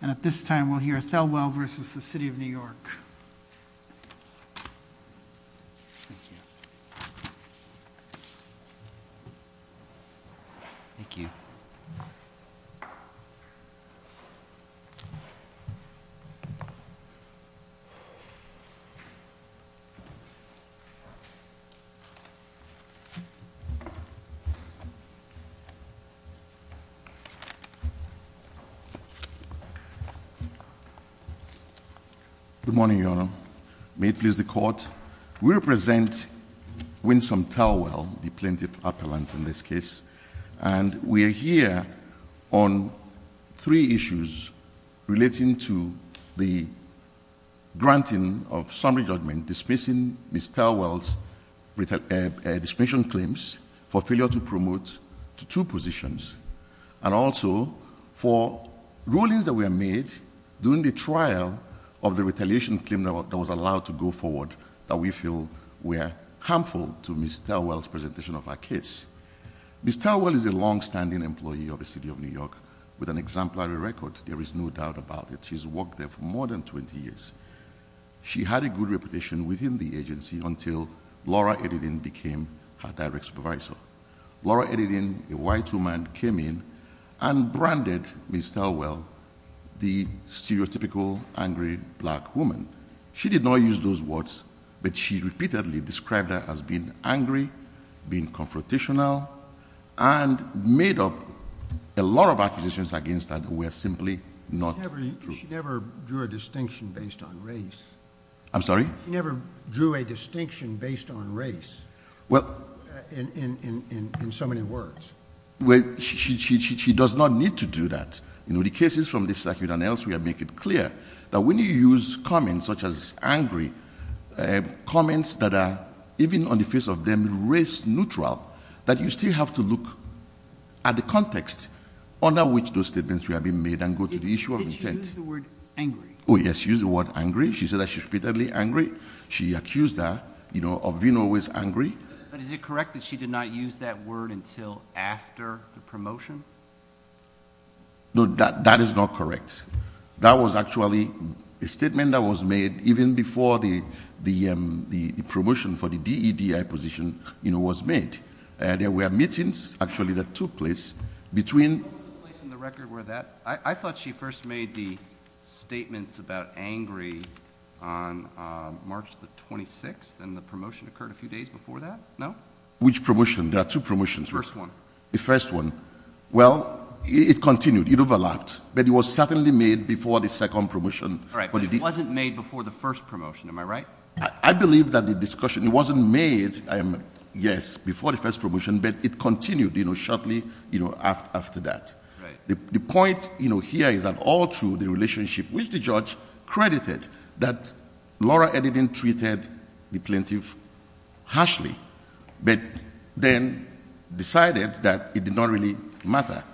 And at this time, we'll hear Thelwell v. City of New York. Thank you. Good morning, Your Honor. May it please the Court. We represent Winsome Thelwell, the plaintiff appellant in this case. And we are here on three issues relating to the granting of summary judgment dismissing Ms. Thelwell's dismissal claims for failure to promote to two positions. And also, for rulings that were made during the trial of the retaliation claim that was allowed to go forward that we feel were harmful to Ms. Thelwell's presentation of her case. Ms. Thelwell is a longstanding employee of the City of New York with an exemplary record. There is no doubt about it. She's worked there for more than 20 years. She had a good reputation within the agency until Laura Edding became her direct supervisor. Laura Edding, a white woman, came in and branded Ms. Thelwell the stereotypical angry black woman. She did not use those words, but she repeatedly described her as being angry, being confrontational, and made up a lot of accusations against her that were simply not true. She never drew a distinction based on race. I'm sorry? She never drew a distinction based on race in so many words. She does not need to do that. The cases from this circuit and elsewhere make it clear that when you use comments such as angry, comments that are, even on the face of them, race neutral, that you still have to look at the context under which those statements have been made and go to the issue of intent. Did she use the word angry? Oh, yes, she used the word angry. She said that she was repeatedly angry. She accused her of being always angry. But is it correct that she did not use that word until after the promotion? No, that is not correct. That was actually a statement that was made even before the promotion for the DEDI position, you know, was made. There were meetings, actually, that took place between. I thought she first made the statements about angry on March the 26th, and the promotion occurred a few days before that, no? Which promotion? There are two promotions. The first one. The first one. Well, it continued. It overlapped. But it was certainly made before the second promotion. Right. But it wasn't made before the first promotion. Am I right? I believe that the discussion, it wasn't made, yes, before the first promotion, but it continued, you know, shortly after that. Right. The point, you know, here is that all through the relationship, which the judge credited that Laura Edding treated the plaintiff harshly, but then decided that it did not really matter.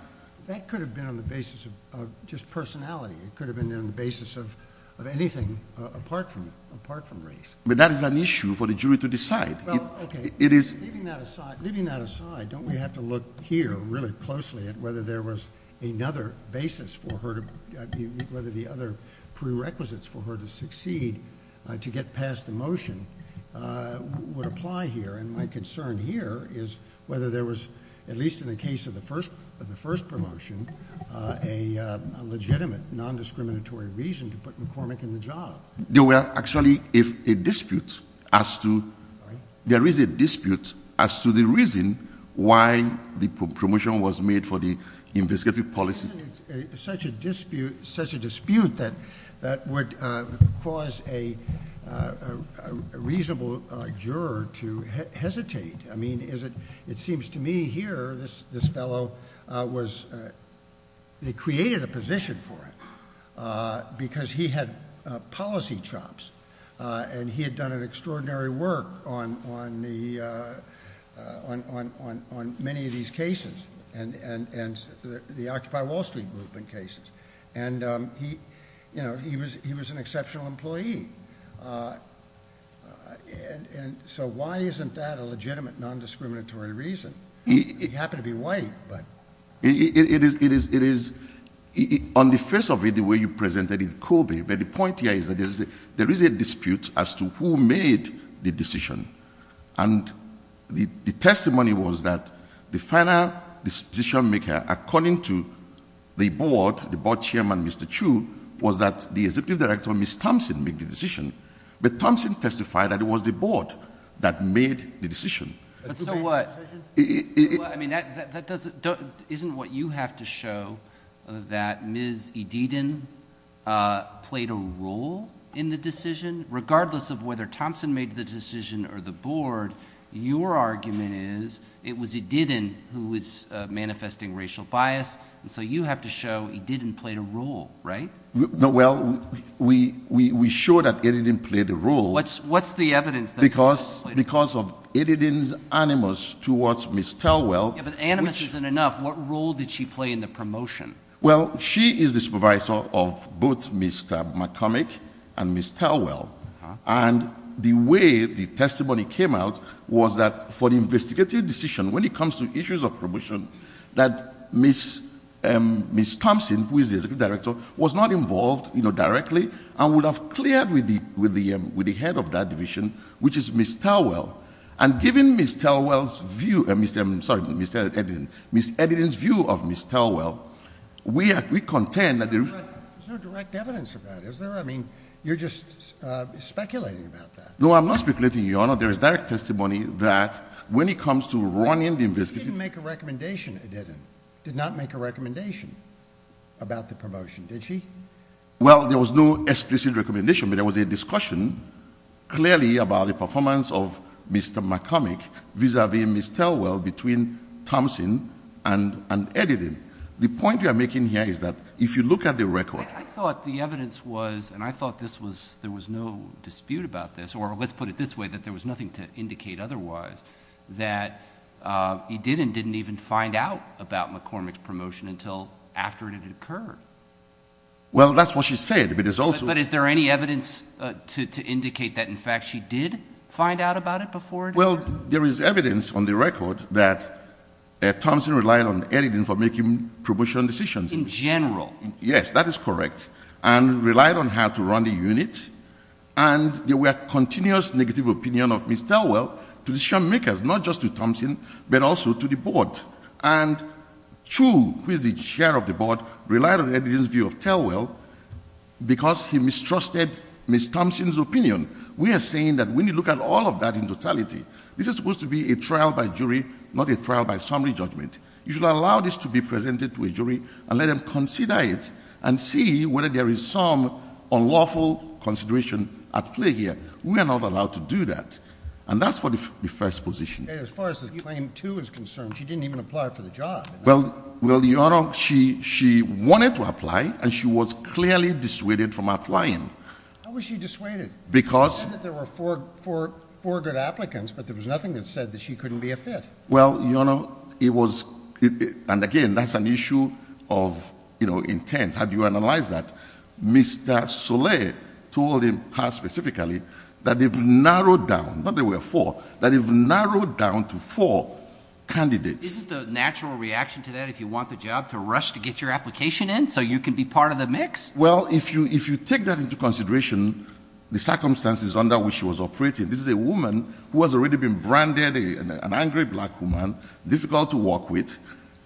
That could have been on the basis of just personality. It could have been on the basis of anything apart from race. But that is an issue for the jury to decide. Well, okay. Leaving that aside, don't we have to look here really closely at whether there was another basis for her, whether the other prerequisites for her to succeed to get past the motion would apply here. And my concern here is whether there was, at least in the case of the first promotion, a legitimate nondiscriminatory reason to put McCormick in the job. There were actually a dispute as to, there is a dispute as to the reason why the promotion was made for the investigative policy. Isn't it such a dispute that would cause a reasonable juror to hesitate? I mean, it seems to me here this fellow was, they created a position for him because he had policy chops. And he had done an extraordinary work on many of these cases and the Occupy Wall Street group in cases. And he was an exceptional employee. So why isn't that a legitimate nondiscriminatory reason? He happened to be white. It is, on the face of it, the way you presented it, Kobe, but the point here is that there is a dispute as to who made the decision. And the testimony was that the final decision maker, according to the board, the board chairman, Mr. Chu, was that the executive director, Ms. Thompson, made the decision. But Thompson testified that it was the board that made the decision. But so what? I mean, isn't what you have to show that Ms. Ediden played a role in the decision? Regardless of whether Thompson made the decision or the board, your argument is it was Ediden who was manifesting racial bias. So you have to show Ediden played a role, right? Well, we show that Ediden played a role. Because of Ediden's animus towards Ms. Tellwell. Yeah, but animus isn't enough. What role did she play in the promotion? Well, she is the supervisor of both Ms. McCormick and Ms. Tellwell. And the way the testimony came out was that for the investigative decision, when it comes to issues of promotion, that Ms. Thompson, who is the executive director, was not involved directly and would have cleared with the head of that division, which is Ms. Tellwell. And given Ms. Ediden's view of Ms. Tellwell, we contend that- There's no direct evidence of that, is there? I mean, you're just speculating about that. No, I'm not speculating, Your Honor. There is direct testimony that when it comes to running the investigative- She didn't make a recommendation, Ediden, did not make a recommendation about the promotion, did she? Well, there was no explicit recommendation, but there was a discussion clearly about the performance of Mr. McCormick vis-a-vis Ms. Tellwell between Thompson and Ediden. The point you are making here is that if you look at the record- I thought the evidence was, and I thought there was no dispute about this, or let's put it this way, that there was nothing to indicate otherwise, that Ediden didn't even find out about McCormick's promotion until after it had occurred. Well, that's what she said, but it's also- But is there any evidence to indicate that, in fact, she did find out about it before it occurred? Well, there is evidence on the record that Thompson relied on Ediden for making promotion decisions. In general? Yes, that is correct, and relied on her to run the unit. And there were continuous negative opinions of Ms. Tellwell to decision-makers, not just to Thompson, but also to the board. And Chu, who is the chair of the board, relied on Ediden's view of Tellwell because he mistrusted Ms. Thompson's opinion. We are saying that when you look at all of that in totality, this is supposed to be a trial by jury, not a trial by summary judgment. You should allow this to be presented to a jury and let them consider it and see whether there is some unlawful consideration at play here. We are not allowed to do that. And that's for the first position. As far as the claim 2 is concerned, she didn't even apply for the job. Well, Your Honor, she wanted to apply, and she was clearly dissuaded from applying. How was she dissuaded? Because- You said that there were four good applicants, but there was nothing that said that she couldn't be a fifth. Well, Your Honor, it was-and, again, that's an issue of intent. How do you analyze that? Mr. Soleil told him how specifically that they've narrowed down-not that there were four-that they've narrowed down to four candidates. Isn't the natural reaction to that if you want the job to rush to get your application in so you can be part of the mix? Well, if you take that into consideration, the circumstances under which she was operating- this is a woman who has already been branded an angry black woman, difficult to work with.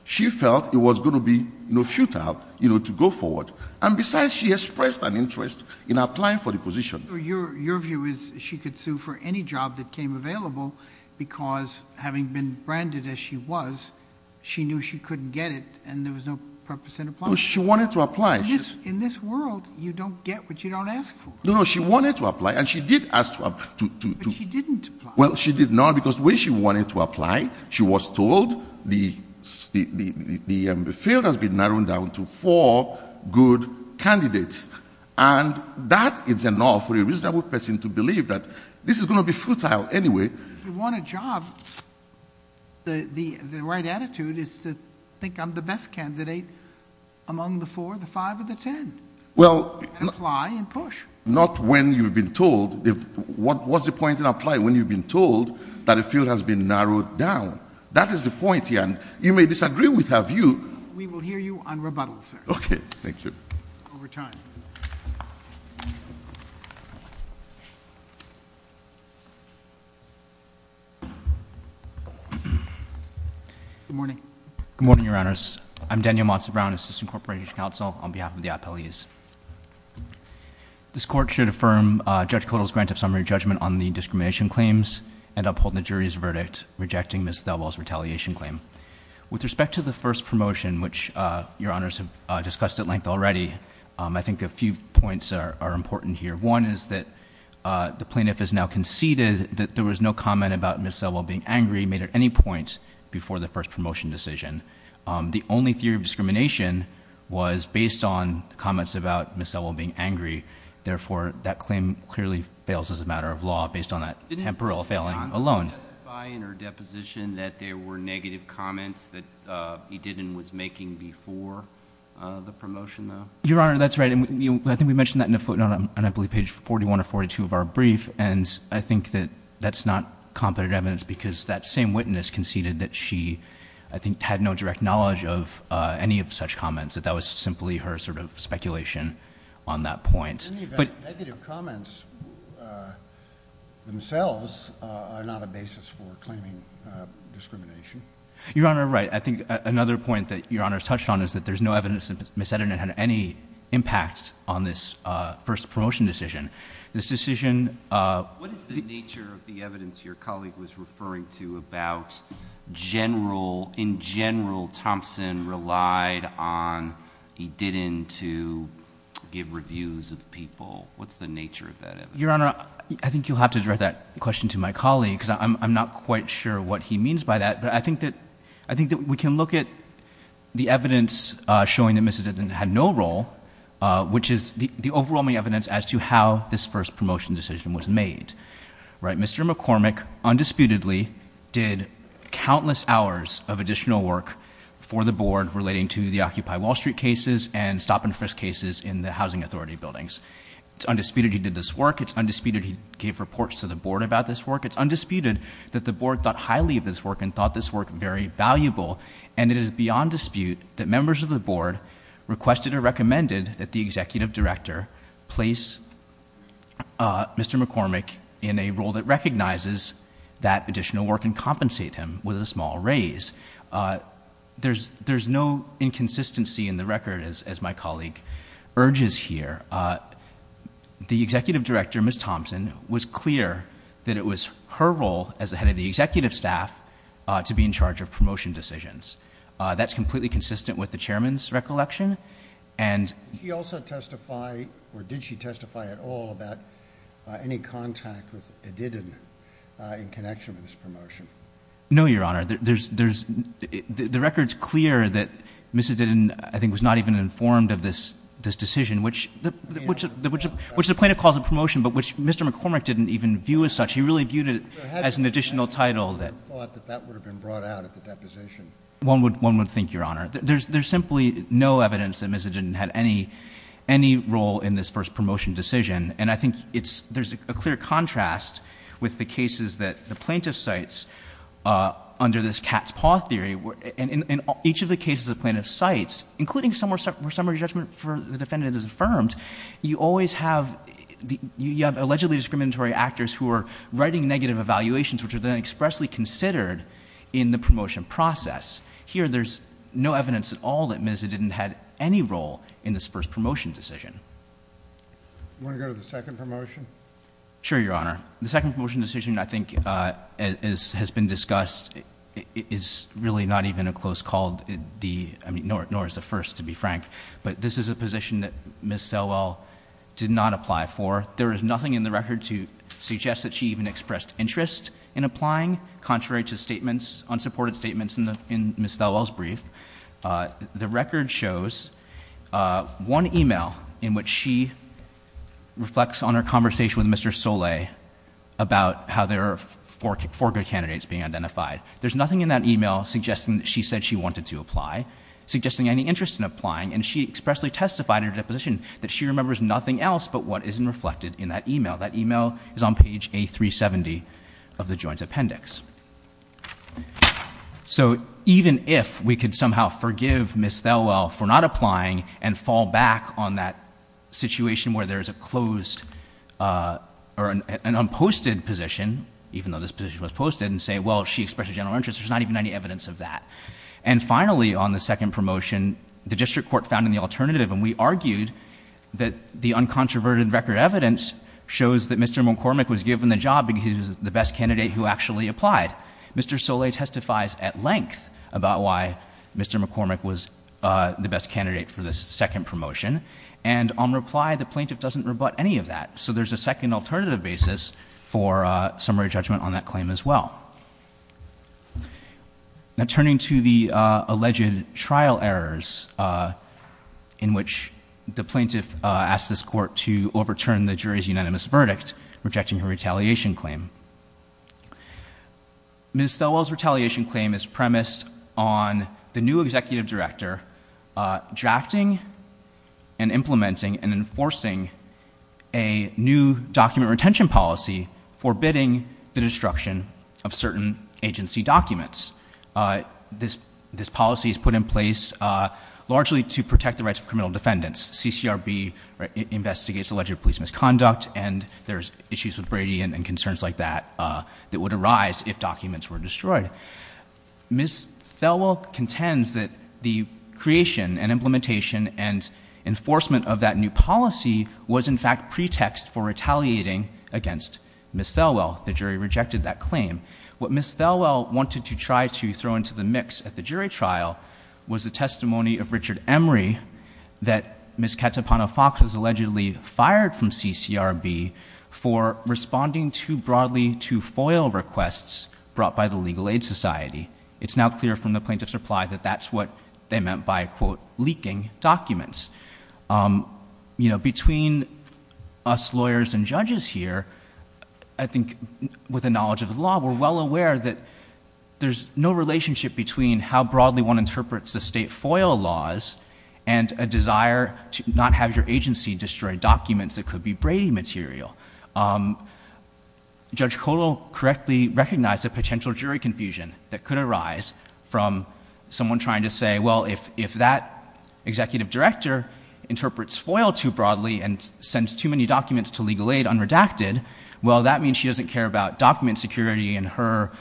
She felt it was going to be, you know, futile, you know, to go forward. And besides, she expressed an interest in applying for the position. Your view is she could sue for any job that came available because, having been branded as she was, she knew she couldn't get it and there was no purpose in applying. No, she wanted to apply. In this world, you don't get what you don't ask for. No, no, she wanted to apply and she did ask to- But she didn't apply. Well, she did not because the way she wanted to apply, she was told the field has been narrowed down to four good candidates. And that is enough for a reasonable person to believe that this is going to be futile anyway. If you want a job, the right attitude is to think I'm the best candidate among the four, the five, or the ten. Well- And apply and push. Not when you've been told. What's the point in applying when you've been told that the field has been narrowed down? That is the point here, and you may disagree with her view- We will hear you on rebuttal, sir. Okay, thank you. Over time. Good morning. Good morning, Your Honors. I'm Daniel Monson Brown, Assistant Corporation Counsel on behalf of the appellees. This court should affirm Judge Kodal's grant of summary judgment on the discrimination claims and uphold the jury's verdict, rejecting Ms. Thelwell's retaliation claim. With respect to the first promotion, which Your Honors have discussed at length already, I think a few points are important here. One is that the plaintiff has now conceded that there was no comment about Ms. Thelwell being angry made at any point before the first promotion decision. The only theory of discrimination was based on comments about Ms. Thelwell being angry. Therefore, that claim clearly fails as a matter of law based on that temporal failing alone. Didn't Ms. Monson testify in her deposition that there were negative comments that he did and was making before the promotion, though? Your Honor, that's right. And I think we mentioned that on, I believe, page 41 or 42 of our brief. And I think that that's not competent evidence because that same witness conceded that she, I think, had no direct knowledge of any of such comments, that that was simply her sort of speculation on that point. In the event, negative comments themselves are not a basis for claiming discrimination. Your Honor, right. I think another point that Your Honors touched on is that there's no evidence that Ms. Eden had any impact on this first promotion decision. This decision- What is the nature of the evidence your colleague was referring to about general, in general, Thompson relied on Eden to give reviews of people? What's the nature of that evidence? Your Honor, I think you'll have to direct that question to my colleague because I'm not quite sure what he means by that. But I think that we can look at the evidence showing that Ms. decision was made. Mr. McCormick undisputedly did countless hours of additional work for the board relating to the Occupy Wall Street cases and stop and frisk cases in the Housing Authority buildings. It's undisputed he did this work. It's undisputed he gave reports to the board about this work. It's undisputed that the board thought highly of this work and thought this work very valuable. And it is beyond dispute that members of the board requested or Mr. McCormick in a role that recognizes that additional work and compensate him with a small raise. There's no inconsistency in the record, as my colleague urges here. The executive director, Ms. Thompson, was clear that it was her role as the head of the executive staff to be in charge of promotion decisions. That's completely consistent with the chairman's recollection. Did she also testify or did she testify at all about any contact with Edidin in connection with this promotion? No, Your Honor. The record's clear that Ms. Edidin, I think, was not even informed of this decision, which the plaintiff calls a promotion, but which Mr. McCormick didn't even view as such. He really viewed it as an additional title. One would have thought that that would have been brought out at the deposition. One would think, Your Honor. There's simply no evidence that Ms. Edidin had any role in this first promotion decision. And I think there's a clear contrast with the cases that the plaintiff cites under this cat's paw theory. In each of the cases the plaintiff cites, including where summary judgment for the defendant is affirmed, you always have allegedly discriminatory actors who are writing negative evaluations, which are then expressly considered in the promotion process. Here there's no evidence at all that Ms. Edidin had any role in this first promotion decision. You want to go to the second promotion? Sure, Your Honor. The second promotion decision, I think, has been discussed. It's really not even a close call, nor is the first, to be frank. But this is a position that Ms. Selwell did not apply for. There is nothing in the record to suggest that she even expressed interest in applying, contrary to statements, unsupported statements in Ms. Selwell's brief. The record shows one email in which she reflects on her conversation with Mr. Soleil about how there are four good candidates being identified. There's nothing in that email suggesting that she said she wanted to apply, suggesting any interest in applying. And she expressly testified in her deposition that she remembers nothing else but what isn't reflected in that email. That email is on page A370 of the Joint Appendix. So even if we could somehow forgive Ms. Selwell for not applying and fall back on that situation where there's an unposted position, even though this position was posted, and say, well, she expressed a general interest. There's not even any evidence of that. And finally, on the second promotion, the district court found an alternative. And we argued that the uncontroverted record evidence shows that Mr. McCormick was given the job because he was the best candidate who actually applied. Mr. Soleil testifies at length about why Mr. McCormick was the best candidate for this second promotion. And on reply, the plaintiff doesn't rebut any of that. So there's a second alternative basis for summary judgment on that claim as well. Now turning to the alleged trial errors in which the plaintiff asked this court to overturn the jury's unanimous verdict, rejecting her retaliation claim. Ms. Selwell's retaliation claim is premised on the new executive director drafting and implementing and enforcing a new document retention policy forbidding the destruction of certain agency documents. This policy is put in place largely to protect the rights of criminal defendants. CCRB investigates alleged police misconduct, and there's issues with Brady and concerns like that that would arise if documents were destroyed. Ms. Selwell contends that the creation and implementation and enforcement of that new policy was in fact pretext for retaliating against Ms. Selwell. The jury rejected that claim. What Ms. Selwell wanted to try to throw into the mix at the jury trial was the testimony of Richard Emery that Ms. Katapana Fox was allegedly fired from CCRB for responding too broadly to FOIL requests brought by the Legal Aid Society. It's now clear from the plaintiff's reply that that's what they meant by, quote, leaking documents. You know, between us lawyers and judges here, I think with the knowledge of the law, we're well aware that there's no relationship between how broadly one interprets the state FOIL laws and a desire to not have your agency destroy documents that could be Brady material. Judge Kotal correctly recognized a potential jury confusion that could arise from someone trying to say, well, if that executive director interprets FOIL too broadly and sends too many documents to Legal Aid unredacted, well, that means she doesn't care about document security and her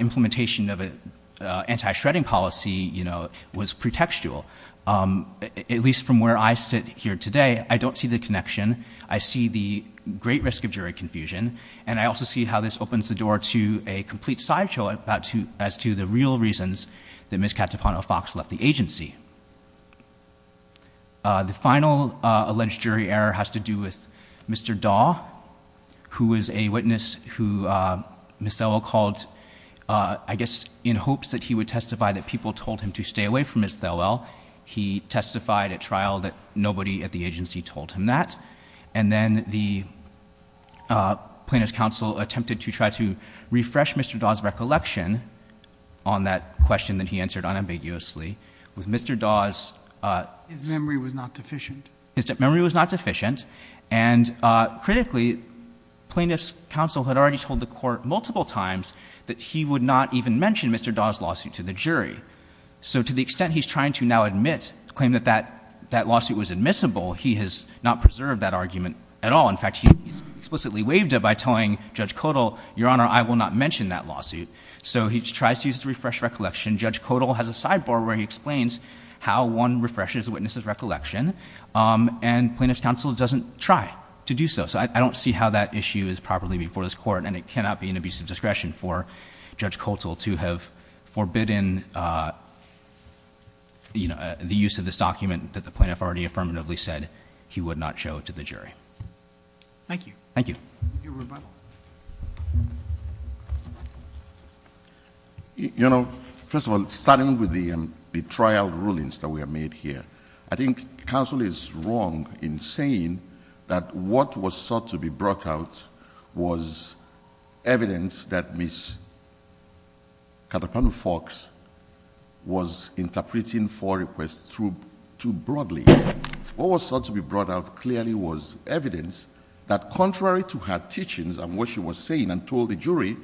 implementation of an anti-shredding policy, you know, was pretextual. At least from where I sit here today, I don't see the connection. I see the great risk of jury confusion, and I also see how this opens the door to a complete sideshow as to the real reasons that Ms. Catapano-Fox left the agency. The final alleged jury error has to do with Mr. Dahl, who was a witness who Ms. Thelwell called, I guess, in hopes that he would testify that people told him to stay away from Ms. Thelwell. He testified at trial that nobody at the agency told him that. And then the plaintiff's counsel attempted to try to refresh Mr. Dahl's recollection on that question that he answered unambiguously. With Mr. Dahl's- His memory was not deficient. His memory was not deficient. And critically, plaintiff's counsel had already told the court multiple times that he would not even mention Mr. Dahl's lawsuit to the jury. So to the extent he's trying to now admit, claim that that lawsuit was admissible, he has not preserved that argument at all. In fact, he's explicitly waived it by telling Judge Kotel, Your Honor, I will not mention that lawsuit. So he tries to use it to refresh recollection. Judge Kotel has a sidebar where he explains how one refreshes a witness's recollection, and plaintiff's counsel doesn't try to do so. So I don't see how that issue is properly before this court. And it cannot be an abuse of discretion for Judge Kotel to have forbidden the use of this document that the plaintiff already affirmatively said he would not show to the jury. Thank you. Thank you. Your rebuttal. You know, first of all, starting with the trial rulings that we have made here, I think counsel is wrong in saying that what was sought to be brought out was evidence that Ms. Katapanu-Fox was interpreting four requests too broadly. What was sought to be brought out clearly was evidence that contrary to her teachings and what she was saying and told the jury,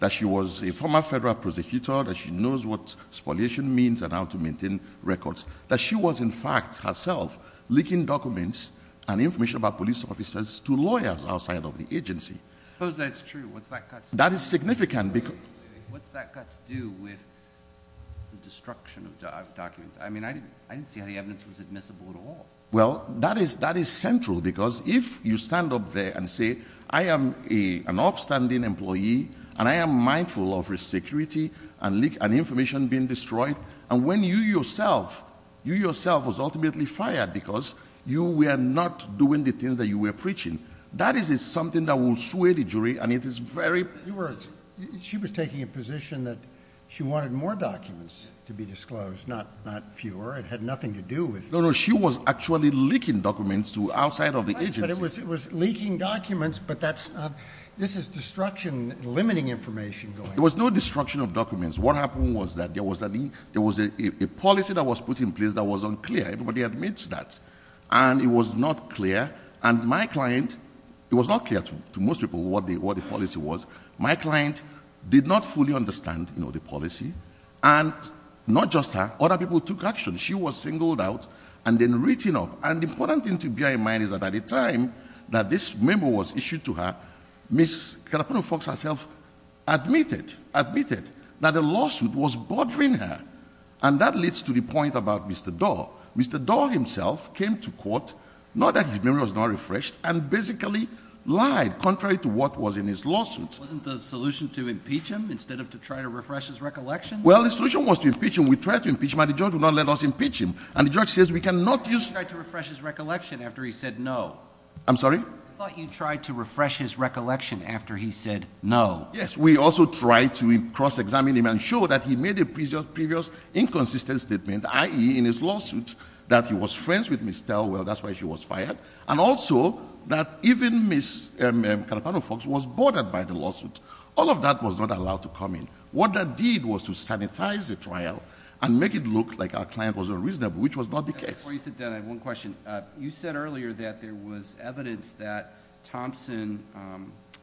that she was a former federal prosecutor, that she knows what spoliation means and how to maintain records, that she was in fact herself leaking documents and information about police officers to lawyers outside of the agency. Suppose that's true. What's that got to do with it? That is significant. What's that got to do with the destruction of documents? I mean, I didn't see how the evidence was admissible at all. Well, that is central because if you stand up there and say I am an upstanding employee and I am mindful of risk security and information being destroyed, and when you yourself was ultimately fired because you were not doing the things that you were preaching, that is something that will sway the jury and it is very— She was taking a position that she wanted more documents to be disclosed, not fewer. It had nothing to do with— No, no, she was actually leaking documents to outside of the agency. It was leaking documents, but that's not—this is destruction, limiting information. There was no destruction of documents. What happened was that there was a policy that was put in place that was unclear. Everybody admits that. And it was not clear. And my client—it was not clear to most people what the policy was. My client did not fully understand the policy. And not just her. Other people took action. She was singled out and then written up. And the important thing to bear in mind is that at the time that this memo was issued to her, Ms. Kalapano-Fox herself admitted that a lawsuit was bothering her. And that leads to the point about Mr. Doar. Mr. Doar himself came to court, not that his memory was not refreshed, and basically lied contrary to what was in his lawsuit. Wasn't the solution to impeach him instead of to try to refresh his recollection? Well, the solution was to impeach him. We tried to impeach him, and the judge would not let us impeach him. And the judge says we cannot use— I thought you tried to refresh his recollection after he said no. I'm sorry? I thought you tried to refresh his recollection after he said no. Yes. We also tried to cross-examine him and show that he made a previous inconsistent statement, i.e., in his lawsuit, that he was friends with Ms. Telwell. That's why she was fired. And also that even Ms. Kalapano-Fox was bothered by the lawsuit. All of that was not allowed to come in. What that did was to sanitize the trial and make it look like our client was unreasonable, which was not the case. Before you sit down, I have one question. You said earlier that there was evidence that Thompson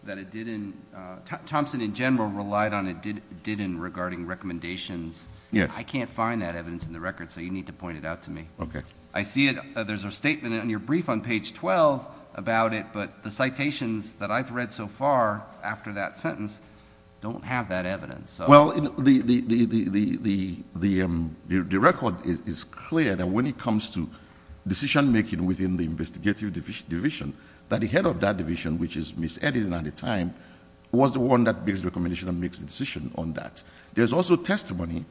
that it didn't—Thompson in general relied on it didn't regarding recommendations. Yes. I can't find that evidence in the record, so you need to point it out to me. Okay. I see it. There's a statement in your brief on page 12 about it, but the citations that I've read so far after that sentence don't have that evidence. Well, the record is clear that when it comes to decision-making within the investigative division, that the head of that division, which is Ms. Edding at the time, was the one that makes the recommendation and makes the decision on that. There's also testimony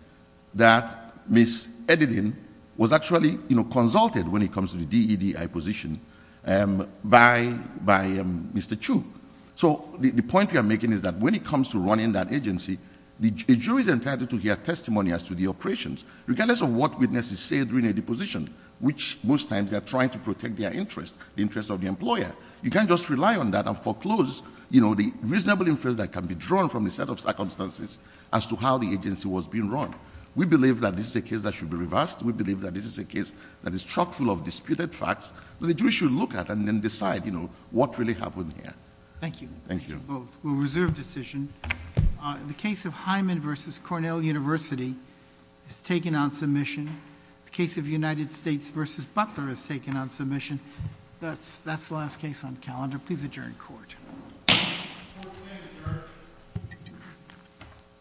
that Ms. Edding was actually consulted when it comes to the DEDI position by Mr. Chu. So the point we are making is that when it comes to running that agency, a jury is entitled to hear testimony as to the operations, regardless of what witnesses say during a deposition, which most times they are trying to protect their interest, the interest of the employer. You can't just rely on that and foreclose the reasonable inference that can be drawn from a set of circumstances as to how the agency was being run. We believe that this is a case that should be reversed. We believe that this is a case that is chock-full of disputed facts. The jury should look at it and decide what really happened here. Thank you. Thank you. We'll reserve decision. The case of Hyman v. Cornell University is taken on submission. The case of United States v. Butler is taken on submission. That's the last case on the calendar. Please adjourn court.